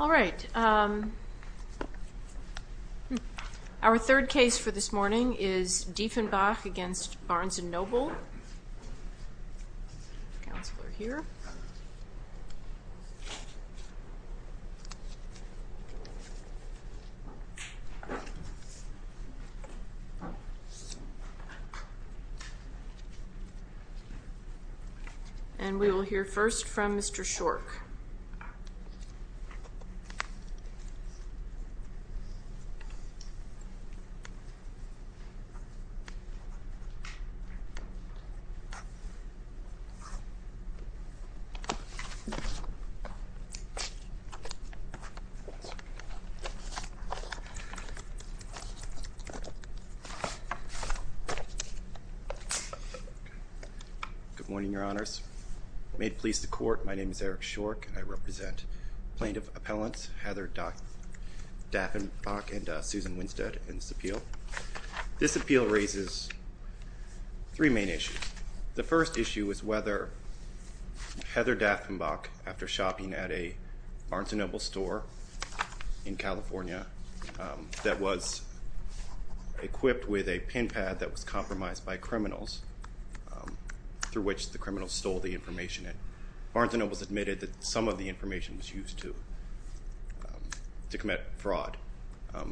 All right, our third case for this morning is Dieffenbach v. Barnes & Noble. And we will hear first from Mr. Shork. Good morning, your honors. May it please the court, my name is Eric Shork and I represent plaintiff appellants Heather Dieffenbach and Susan Winstead in this appeal. This appeal raises three main issues. The first issue is whether Heather Dieffenbach, after shopping at a Barnes & Noble store in California that was equipped with a pin pad that was compromised by criminals, through which the criminals stole the information. Barnes & Noble has admitted that some of the information was used to commit fraud.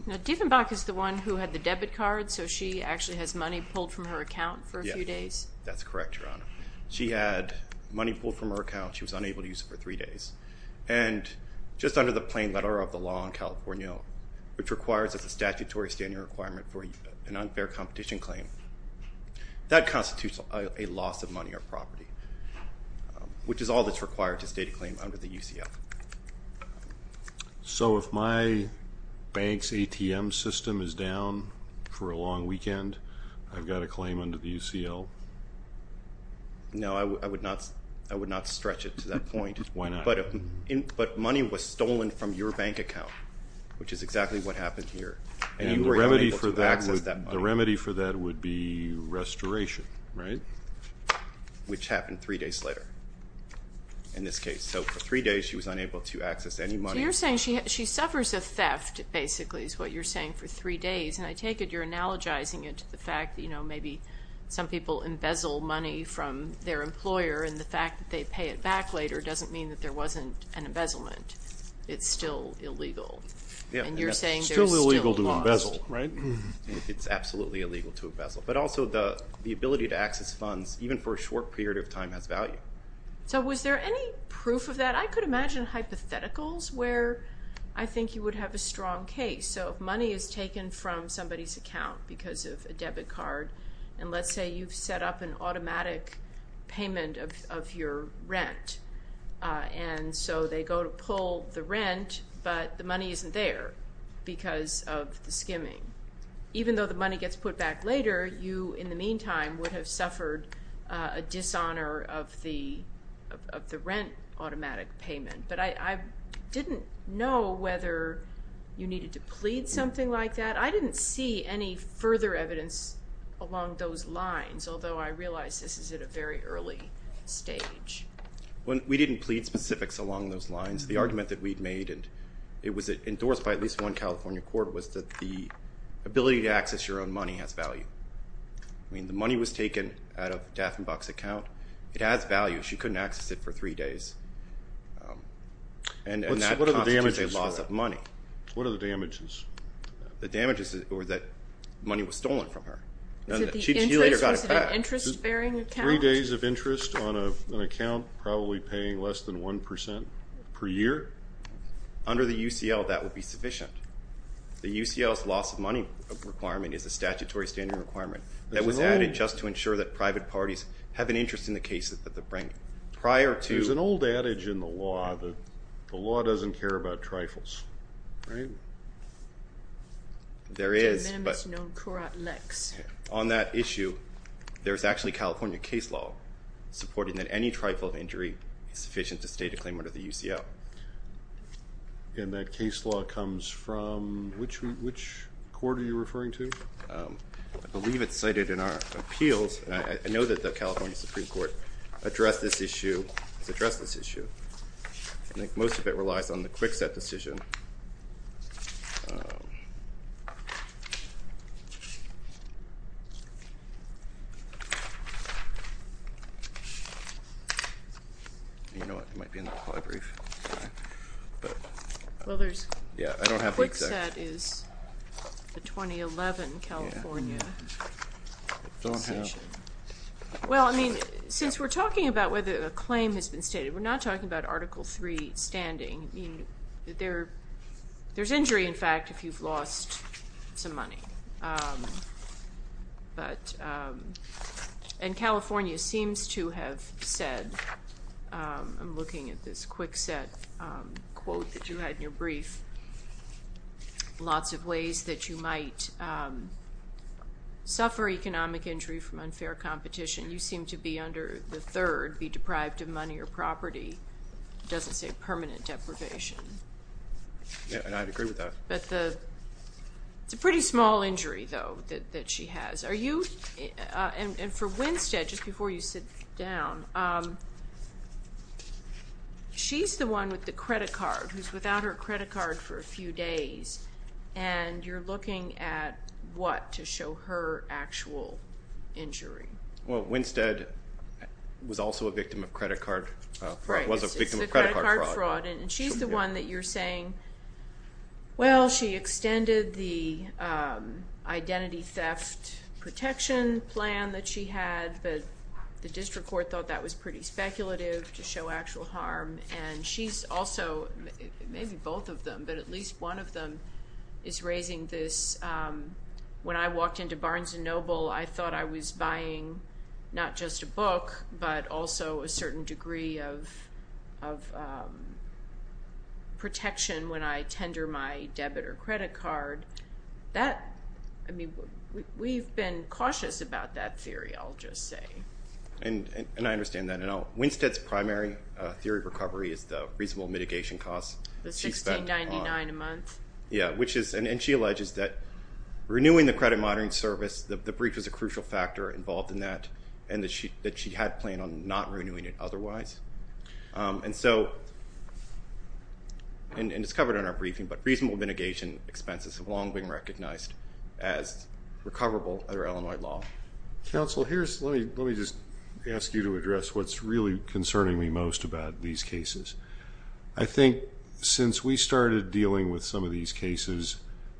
Now, Dieffenbach is the one who had the debit card, so she actually has money pulled from her account for a few days? Yes, that's correct, your honor. She had money pulled from her account, she was unable to use it for three days. And just under the plain letter of the law in California, which requires a statutory standing requirement for an unfair competition claim, that constitutes a loss of money or property. Which is all that's required to state a claim under the UCF. So if my bank's ATM system is down for a long weekend, I've got a claim under the UCL? No, I would not stretch it to that point. Why not? But money was stolen from your bank account, which is exactly what happened here. And you were unable to access that money. The remedy for that would be restoration, right? Which happened three days later in this case. So for three days she was unable to access any money. So you're saying she suffers a theft, basically, is what you're saying, for three days. And I take it you're analogizing it to the fact that maybe some people embezzle money from their employer, and the fact that they pay it back later doesn't mean that there wasn't an embezzlement. It's still illegal. And you're saying there's still loss. It's still illegal to embezzle, right? It's absolutely illegal to embezzle. But also the ability to access funds, even for a short period of time, has value. So was there any proof of that? I could imagine hypotheticals where I think you would have a strong case. So if money is taken from somebody's account because of a debit card, and let's say you've set up an automatic payment of your rent. And so they go to pull the rent, but the money isn't there because of the skimming. Even though the money gets put back later, you, in the meantime, would have suffered a dishonor of the rent automatic payment. But I didn't know whether you needed to plead something like that. I didn't see any further evidence along those lines, although I realize this is at a very early stage. We didn't plead specifics along those lines. The argument that we'd made, and it was endorsed by at least one California court, was that the ability to access your own money has value. I mean, the money was taken out of Daffenbach's account. It has value. She couldn't access it for three days. And that constitutes a loss of money. What are the damages? The damages were that money was stolen from her. She later got it back. Was it an interest-bearing account? Three days of interest on an account, probably paying less than 1% per year? Under the UCL, that would be sufficient. The UCL's loss of money requirement is a statutory standard requirement that was added just to ensure that private parties have an interest in the cases that they're bringing. There's an old adage in the law that the law doesn't care about trifles, right? There is, but on that issue. There's actually California case law supporting that any trifle of injury is sufficient to state a claim under the UCL. And that case law comes from which court are you referring to? I believe it's cited in our appeals. I know that the California Supreme Court addressed this issue. It's addressed this issue. I think most of it relies on the Kwikset decision. You know what? It might be in the polybrief. Well, there's Kwikset is the 2011 California decision. Well, I mean, since we're talking about whether a claim has been stated, we're not talking about Article III standing. There's injury, in fact, if you've lost some money. And California seems to have said, I'm looking at this Kwikset quote that you had in your brief, lots of ways that you might suffer economic injury from unfair competition. You seem to be under the third, be deprived of money or property. It doesn't say permanent deprivation. Yeah, and I'd agree with that. But it's a pretty small injury, though, that she has. And for Winstead, just before you sit down, she's the one with the credit card who's without her credit card for a few days. And you're looking at what to show her actual injury. Well, Winstead was also a victim of credit card fraud. Right, it's the credit card fraud. And she's the one that you're saying, well, she extended the identity theft protection plan that she had, but the district court thought that was pretty speculative to show actual harm. And she's also, maybe both of them, but at least one of them is raising this. When I walked into Barnes & Noble, I thought I was buying not just a book, but also a certain degree of protection when I tender my debit or credit card. That, I mean, we've been cautious about that theory, I'll just say. And I understand that. Winstead's primary theory of recovery is the reasonable mitigation costs. The $16.99 a month. And she alleges that renewing the credit monitoring service, the breach was a crucial factor involved in that, and that she had planned on not renewing it otherwise. And so, and it's covered in our briefing, but reasonable mitigation expenses have long been recognized as recoverable under Illinois law. Counsel, let me just ask you to address what's really concerning me most about these cases. I think since we started dealing with some of these cases,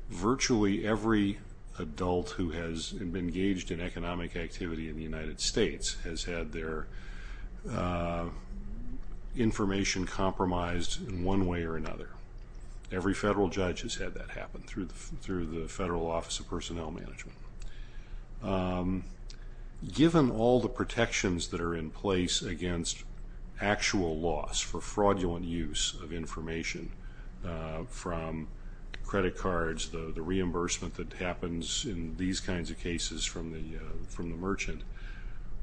virtually every adult who has been engaged in economic activity in the United States has had their information compromised in one way or another. Every federal judge has had that happen through the Federal Office of Personnel Management. Given all the protections that are in place against actual loss for fraudulent use of information from credit cards, the reimbursement that happens in these kinds of cases from the merchant,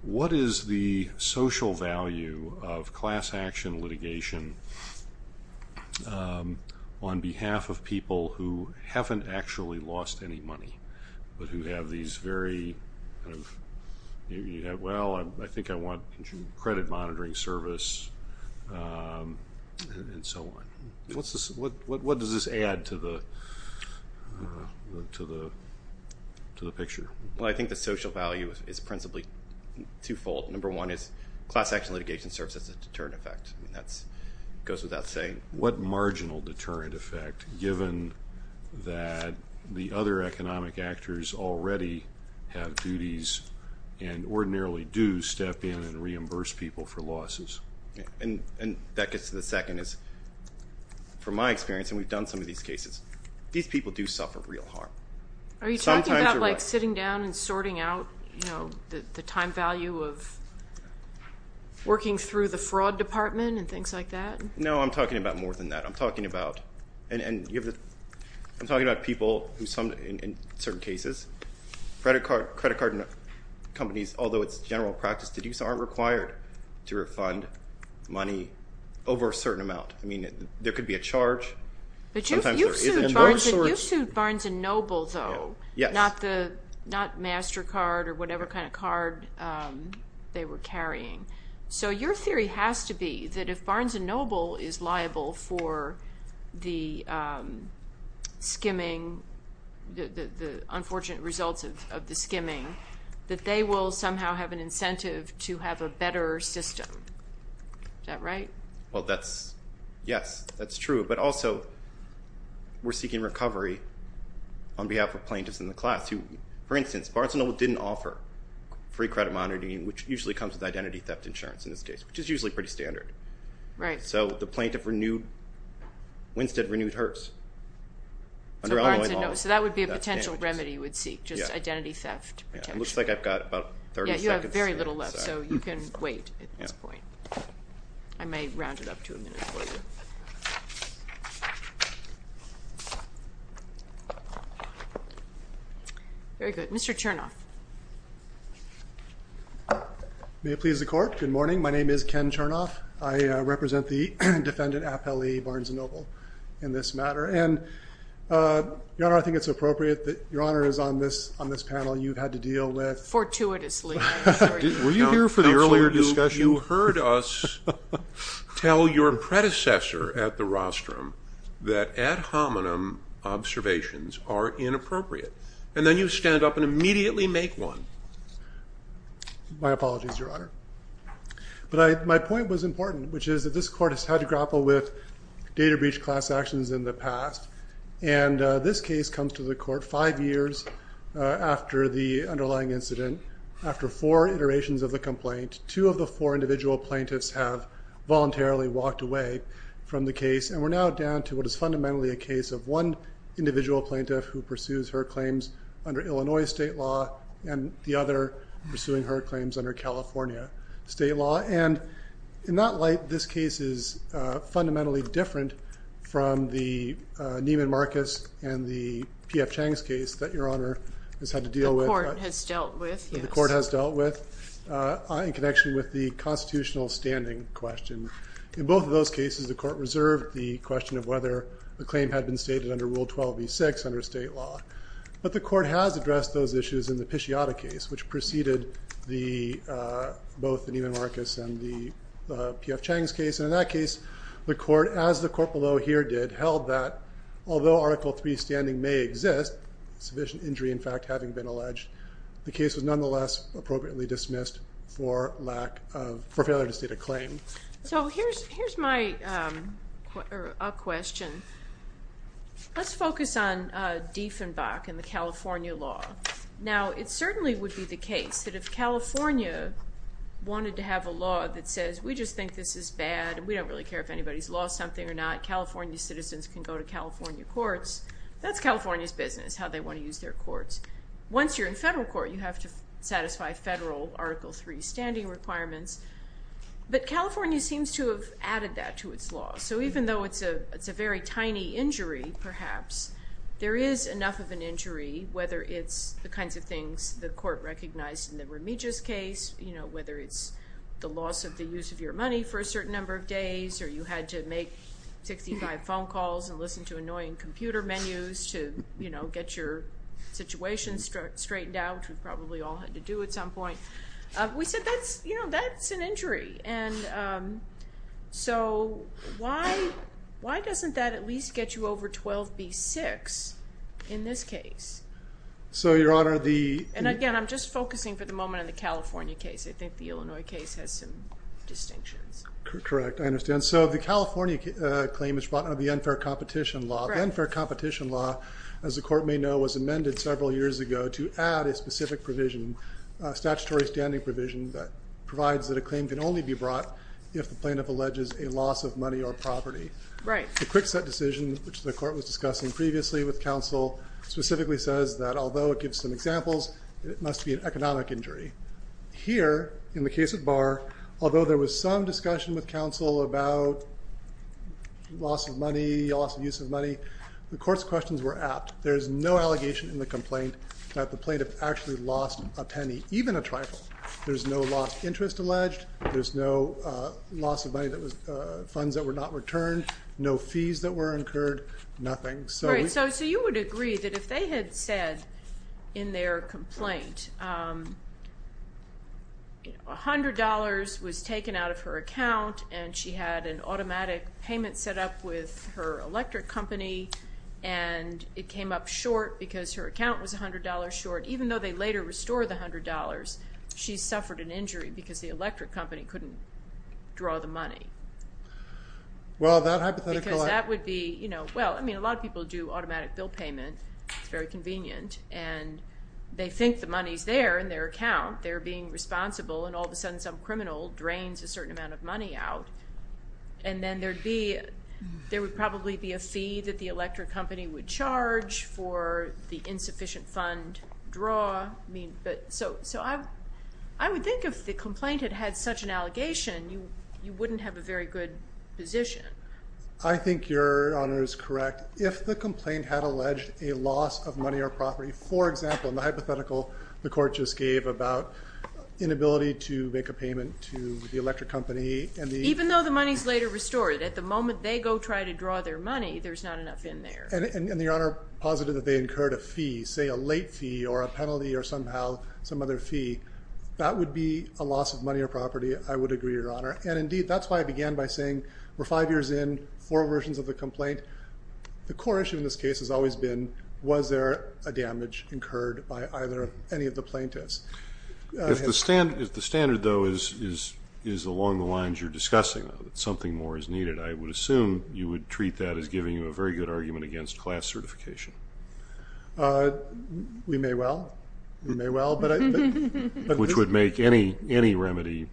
what is the social value of class action litigation on behalf of people who haven't actually lost any money, but who have these very, well, I think I want credit monitoring service, and so on. What does this add to the picture? Well, I think the social value is principally twofold. Number one is class action litigation serves as a deterrent effect. That goes without saying. And what marginal deterrent effect, given that the other economic actors already have duties and ordinarily do step in and reimburse people for losses? And that gets to the second is, from my experience, and we've done some of these cases, these people do suffer real harm. Are you talking about, like, sitting down and sorting out, you know, the time value of working through the fraud department and things like that? No, I'm talking about more than that. I'm talking about people who, in certain cases, credit card companies, although it's general practice to do so, aren't required to refund money over a certain amount. I mean, there could be a charge. But you've sued Barnes & Noble, though, not MasterCard or whatever kind of card they were carrying. So your theory has to be that if Barnes & Noble is liable for the skimming, the unfortunate results of the skimming, that they will somehow have an incentive to have a better system. Is that right? Well, yes, that's true. But also, we're seeking recovery on behalf of plaintiffs in the class who, for instance, Barnes & Noble didn't offer free credit monitoring, which usually comes with identity theft insurance in this case, which is usually pretty standard. Right. So the plaintiff, Winstead, renewed hers. So that would be a potential remedy you would seek, just identity theft. It looks like I've got about 30 seconds. Yeah, you have very little left, so you can wait at this point. I may round it up to a minute for you. Very good. Mr. Chernoff. May it please the Court? Good morning. My name is Ken Chernoff. I represent the defendant, Appellee Barnes & Noble, in this matter. And, Your Honor, I think it's appropriate that Your Honor is on this panel. You've had to deal with ---- Fortuitously. Were you here for the earlier discussion? You heard us tell your predecessor at the Rostrum that ad hominem observations are inappropriate, and then you stand up and immediately make one. My apologies, Your Honor. But my point was important, which is that this Court has had to grapple with data breach class actions in the past, and this case comes to the Court five years after the underlying incident, after four iterations of the complaint. Two of the four individual plaintiffs have voluntarily walked away from the case, and we're now down to what is fundamentally a case of one individual plaintiff who pursues her claims under Illinois state law and the other pursuing her claims under California state law. And in that light, this case is fundamentally different from the Neiman Marcus and the P.F. Chang's case that Your Honor has had to deal with. The Court has dealt with, yes. The Court has dealt with in connection with the constitutional standing question. In both of those cases, the Court reserved the question of whether the claim had been stated under Rule 12b-6 under state law. But the Court has addressed those issues in the Pisciatta case, which preceded both the Neiman Marcus and the P.F. Chang's case. And in that case, the Court, as the Court below here did, held that although Article III standing may exist, sufficient injury, in fact, having been alleged, the case was nonetheless appropriately dismissed for failure to state a claim. So here's my question. Let's focus on Dieffenbach and the California law. Now, it certainly would be the case that if California wanted to have a law that says, we just think this is bad and we don't really care if anybody's lost something or not, California citizens can go to California courts. That's California's business, how they want to use their courts. Once you're in federal court, you have to satisfy federal Article III standing requirements. But California seems to have added that to its law. So even though it's a very tiny injury, perhaps, there is enough of an injury, whether it's the kinds of things the Court recognized in the Remiges case, whether it's the loss of the use of your money for a certain number of days or you had to make 65 phone calls and listen to annoying computer menus to, you know, get your situation straightened out, which we've probably all had to do at some point. We said that's, you know, that's an injury. And so why doesn't that at least get you over 12b-6 in this case? So, Your Honor, the – And again, I'm just focusing for the moment on the California case. I think the Illinois case has some distinctions. Correct. I understand. So the California claim is brought under the unfair competition law. The unfair competition law, as the Court may know, was amended several years ago to add a specific provision, a statutory standing provision that provides that a claim can only be brought if the plaintiff alleges a loss of money or property. Right. The quick set decision, which the Court was discussing previously with counsel, specifically says that although it gives some examples, it must be an economic injury. Here, in the case of Barr, although there was some discussion with counsel about loss of money, loss of use of money, the Court's questions were apt. There's no allegation in the complaint that the plaintiff actually lost a penny, even a trifle. There's no lost interest alleged. There's no loss of money that was funds that were not returned, no fees that were incurred, nothing. Right. So you would agree that if they had said in their complaint, $100 was taken out of her account and she had an automatic payment set up with her electric company and it came up short because her account was $100 short, even though they later restored the $100, she suffered an injury because the electric company couldn't draw the money. Well, that hypothetical... Well, I mean, a lot of people do automatic bill payment. It's very convenient. And they think the money's there in their account. They're being responsible, and all of a sudden some criminal drains a certain amount of money out. And then there would probably be a fee that the electric company would charge for the insufficient fund draw. So I would think if the complaint had had such an allegation, you wouldn't have a very good position. I think Your Honor is correct. If the complaint had alleged a loss of money or property, for example, in the hypothetical the court just gave about inability to make a payment to the electric company and the... Even though the money's later restored, at the moment they go try to draw their money, there's not enough in there. And Your Honor posited that they incurred a fee, say a late fee or a penalty or somehow some other fee. That would be a loss of money or property. I would agree, Your Honor. And, indeed, that's why I began by saying we're five years in, four versions of the complaint. The core issue in this case has always been was there a damage incurred by any of the plaintiffs. If the standard, though, is along the lines you're discussing, that something more is needed, I would assume you would treat that as giving you a very good argument against class certification. We may well. We may well. Which would make any remedy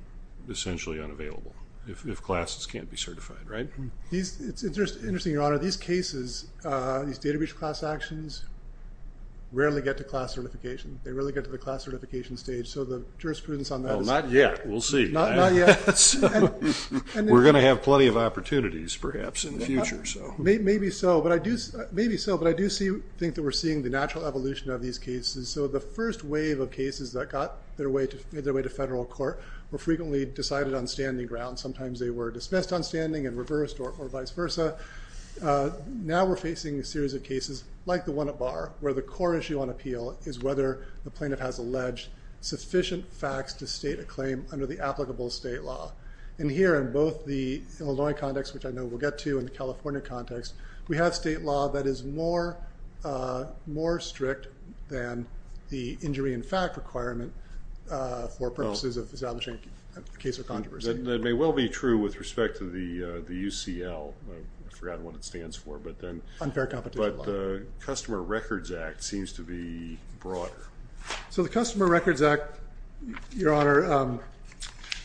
essentially unavailable, if classes can't be certified, right? It's interesting, Your Honor. These cases, these data breach class actions, rarely get to class certification. They rarely get to the class certification stage. So the jurisprudence on that is... Not yet. We'll see. Not yet. We're going to have plenty of opportunities, perhaps, in the future. Maybe so. But I do think that we're seeing the natural evolution of these cases. So the first wave of cases that got their way to federal court were frequently decided on standing grounds. Sometimes they were dismissed on standing and reversed or vice versa. Now we're facing a series of cases, like the one at Barr, where the core issue on appeal is whether the plaintiff has alleged sufficient facts to state a claim under the applicable state law. And here in both the Illinois context, which I know we'll get to, and the California context, we have state law that is more strict than the injury in fact requirement for purposes of establishing a case of controversy. That may well be true with respect to the UCL. I forgot what it stands for. Unfair competition law. But the Customer Records Act seems to be broader. So the Customer Records Act, Your Honor,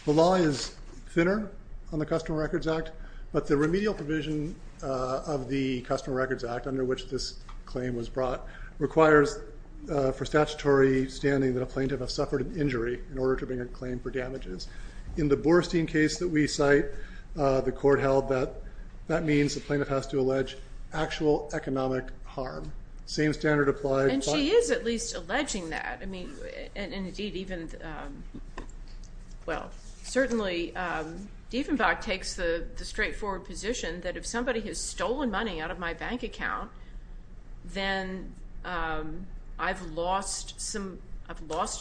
the law is thinner on the Customer Records Act, but the remedial provision of the Customer Records Act, under which this claim was brought, requires for statutory standing that a plaintiff has suffered an injury in order to bring a claim for damages. In the Boorstein case that we cite, the court held that that means the plaintiff has to allege actual economic harm. Same standard applies. And she is at least alleging that. Indeed, even, well, certainly Dieffenbach takes the straightforward position that if somebody has stolen money out of my bank account, then I've lost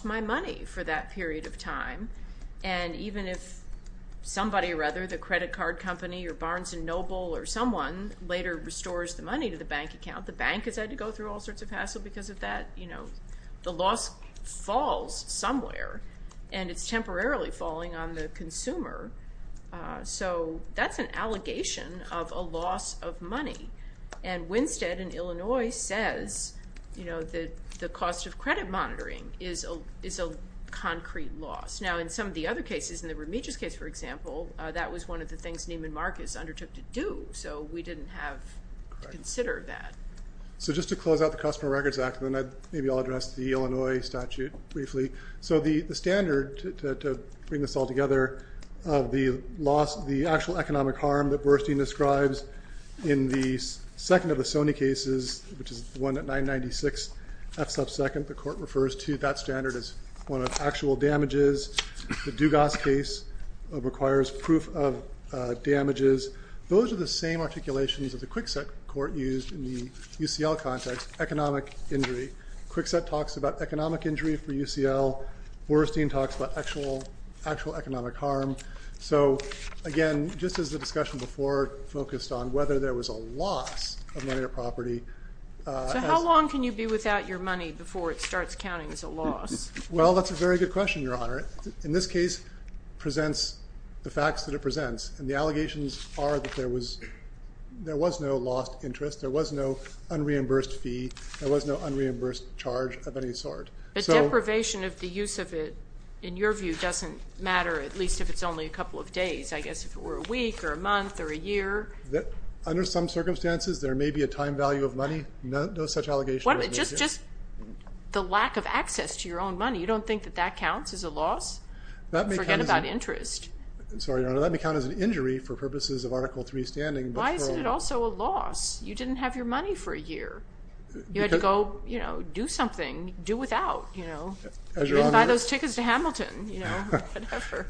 my money for that period of time. And even if somebody, rather, the credit card company or Barnes & Noble or someone later restores the money to the bank account, the bank has had to go through all sorts of hassle because of that. You know, the loss falls somewhere, and it's temporarily falling on the consumer. So that's an allegation of a loss of money. And Winstead in Illinois says, you know, the cost of credit monitoring is a concrete loss. Now, in some of the other cases, in the Remedios case, for example, that was one of the things Neiman Marcus undertook to do, so we didn't have to consider that. So just to close out the Customer Records Act, and then maybe I'll address the Illinois statute briefly. So the standard, to bring this all together, of the actual economic harm that Burstein describes, in the second of the Sony cases, which is the one at 996 F-sub-second, the court refers to that standard as one of actual damages. The Dugas case requires proof of damages. Those are the same articulations that the Kwikset court used in the UCL context, economic injury. Kwikset talks about economic injury for UCL. Burstein talks about actual economic harm. So, again, just as the discussion before focused on whether there was a loss of money or property... So how long can you be without your money before it starts counting as a loss? Well, that's a very good question, Your Honor. In this case, it presents the facts that it presents, and the allegations are that there was no lost interest, there was no unreimbursed fee, there was no unreimbursed charge of any sort. But deprivation of the use of it, in your view, doesn't matter, at least if it's only a couple of days. I guess if it were a week or a month or a year... Under some circumstances, there may be a time value of money. No such allegation... Just the lack of access to your own money, you don't think that that counts as a loss? Forget about interest. Sorry, Your Honor, that may count as an injury for purposes of Article III standing. Why isn't it also a loss? You didn't have your money for a year. You had to go do something, do without. Buy those tickets to Hamilton, you know, whatever.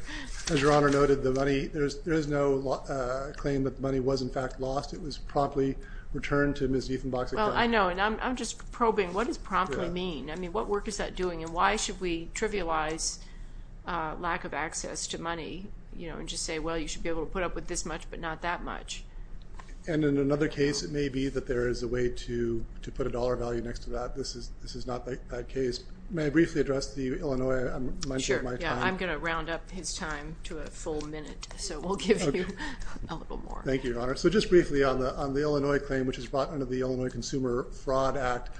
As Your Honor noted, there is no claim that the money was in fact lost. It was promptly returned to Ms. Ethan Boxic. Well, I know, and I'm just probing, what does promptly mean? What work is that doing, and why should we trivialize lack of access to money and just say, well, you should be able to put up with this much but not that much? And in another case, it may be that there is a way to put a dollar value next to that. This is not that case. May I briefly address the Illinois... Sure, yeah, I'm going to round up his time to a full minute, so we'll give you a little more. Thank you, Your Honor. So just briefly, on the Illinois claim, which is brought under the Illinois Consumer Fraud Act,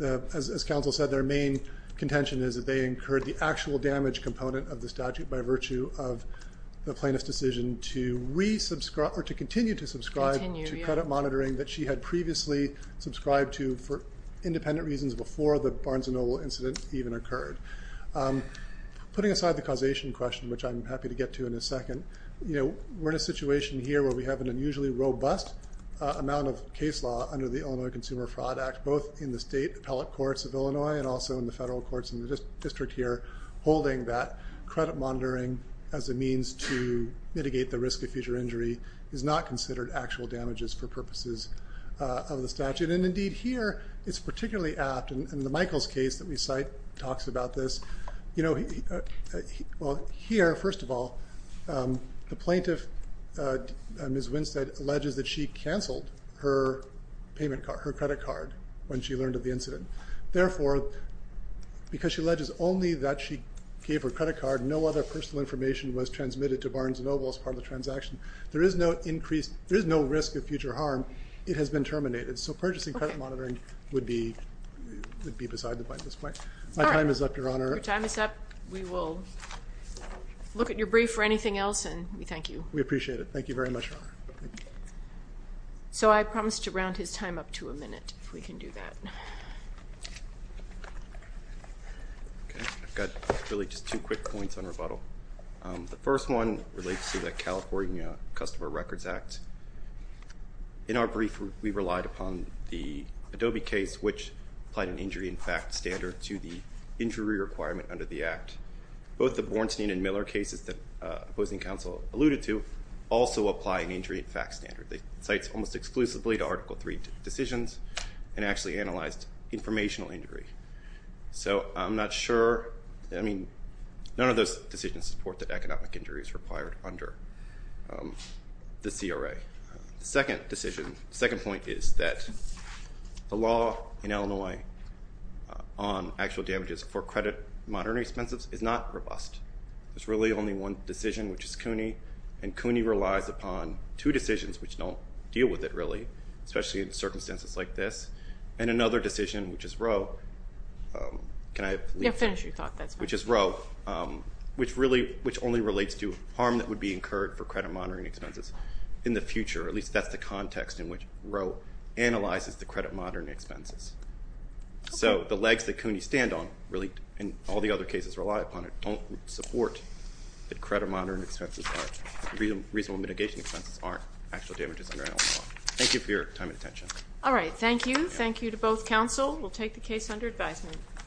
as counsel said, their main contention is that they incurred the actual damage component of the statute by virtue of the plaintiff's decision to continue to subscribe to credit monitoring that she had previously subscribed to for independent reasons before the Barnes & Noble incident even occurred. Putting aside the causation question, which I'm happy to get to in a second, we're in a situation here where we have an unusually robust amount of case law under the Illinois Consumer Fraud Act, both in the state appellate courts of Illinois and also in the federal courts and the district here holding that credit monitoring as a means to mitigate the risk of future injury is not considered actual damages for purposes of the statute. And, indeed, here it's particularly apt, and the Michaels case that we cite talks about this. You know, well, here, first of all, the plaintiff, Ms. Winstead, alleges that she canceled her credit card when she learned of the incident. Therefore, because she alleges only that she gave her credit card, no other personal information was transmitted to Barnes & Noble as part of the transaction. There is no risk of future harm. It has been terminated. So purchasing credit monitoring would be beside the point at this point. My time is up, Your Honor. Your time is up. We will look at your brief or anything else, and we thank you. We appreciate it. Thank you very much, Your Honor. So I promised to round his time up to a minute if we can do that. Okay, I've got really just two quick points on rebuttal. The first one relates to the California Customer Records Act. In our brief, we relied upon the Adobe case, which applied an injury in fact standard to the injury requirement under the act. Both the Bornstein and Miller cases that opposing counsel alluded to also apply an injury in fact standard. They cite almost exclusively to Article III decisions and actually analyzed informational injury. So I'm not sure. I mean, none of those decisions support that economic injury is required under the CRA. The second point is that the law in Illinois on actual damages for credit monitoring expenses is not robust. There's really only one decision, which is CUNY, and CUNY relies upon two decisions which don't deal with it really, especially in circumstances like this. And another decision, which is Roe, which only relates to harm that would be incurred for credit monitoring expenses in the future. At least that's the context in which Roe analyzes the credit monitoring expenses. So the legs that CUNY stand on really, and all the other cases rely upon it, don't support that credit monitoring expenses, reasonable mitigation expenses aren't actual damages under Illinois law. Thank you for your time and attention. All right. Thank you. Thank you to both counsel. We'll take the case under advisement.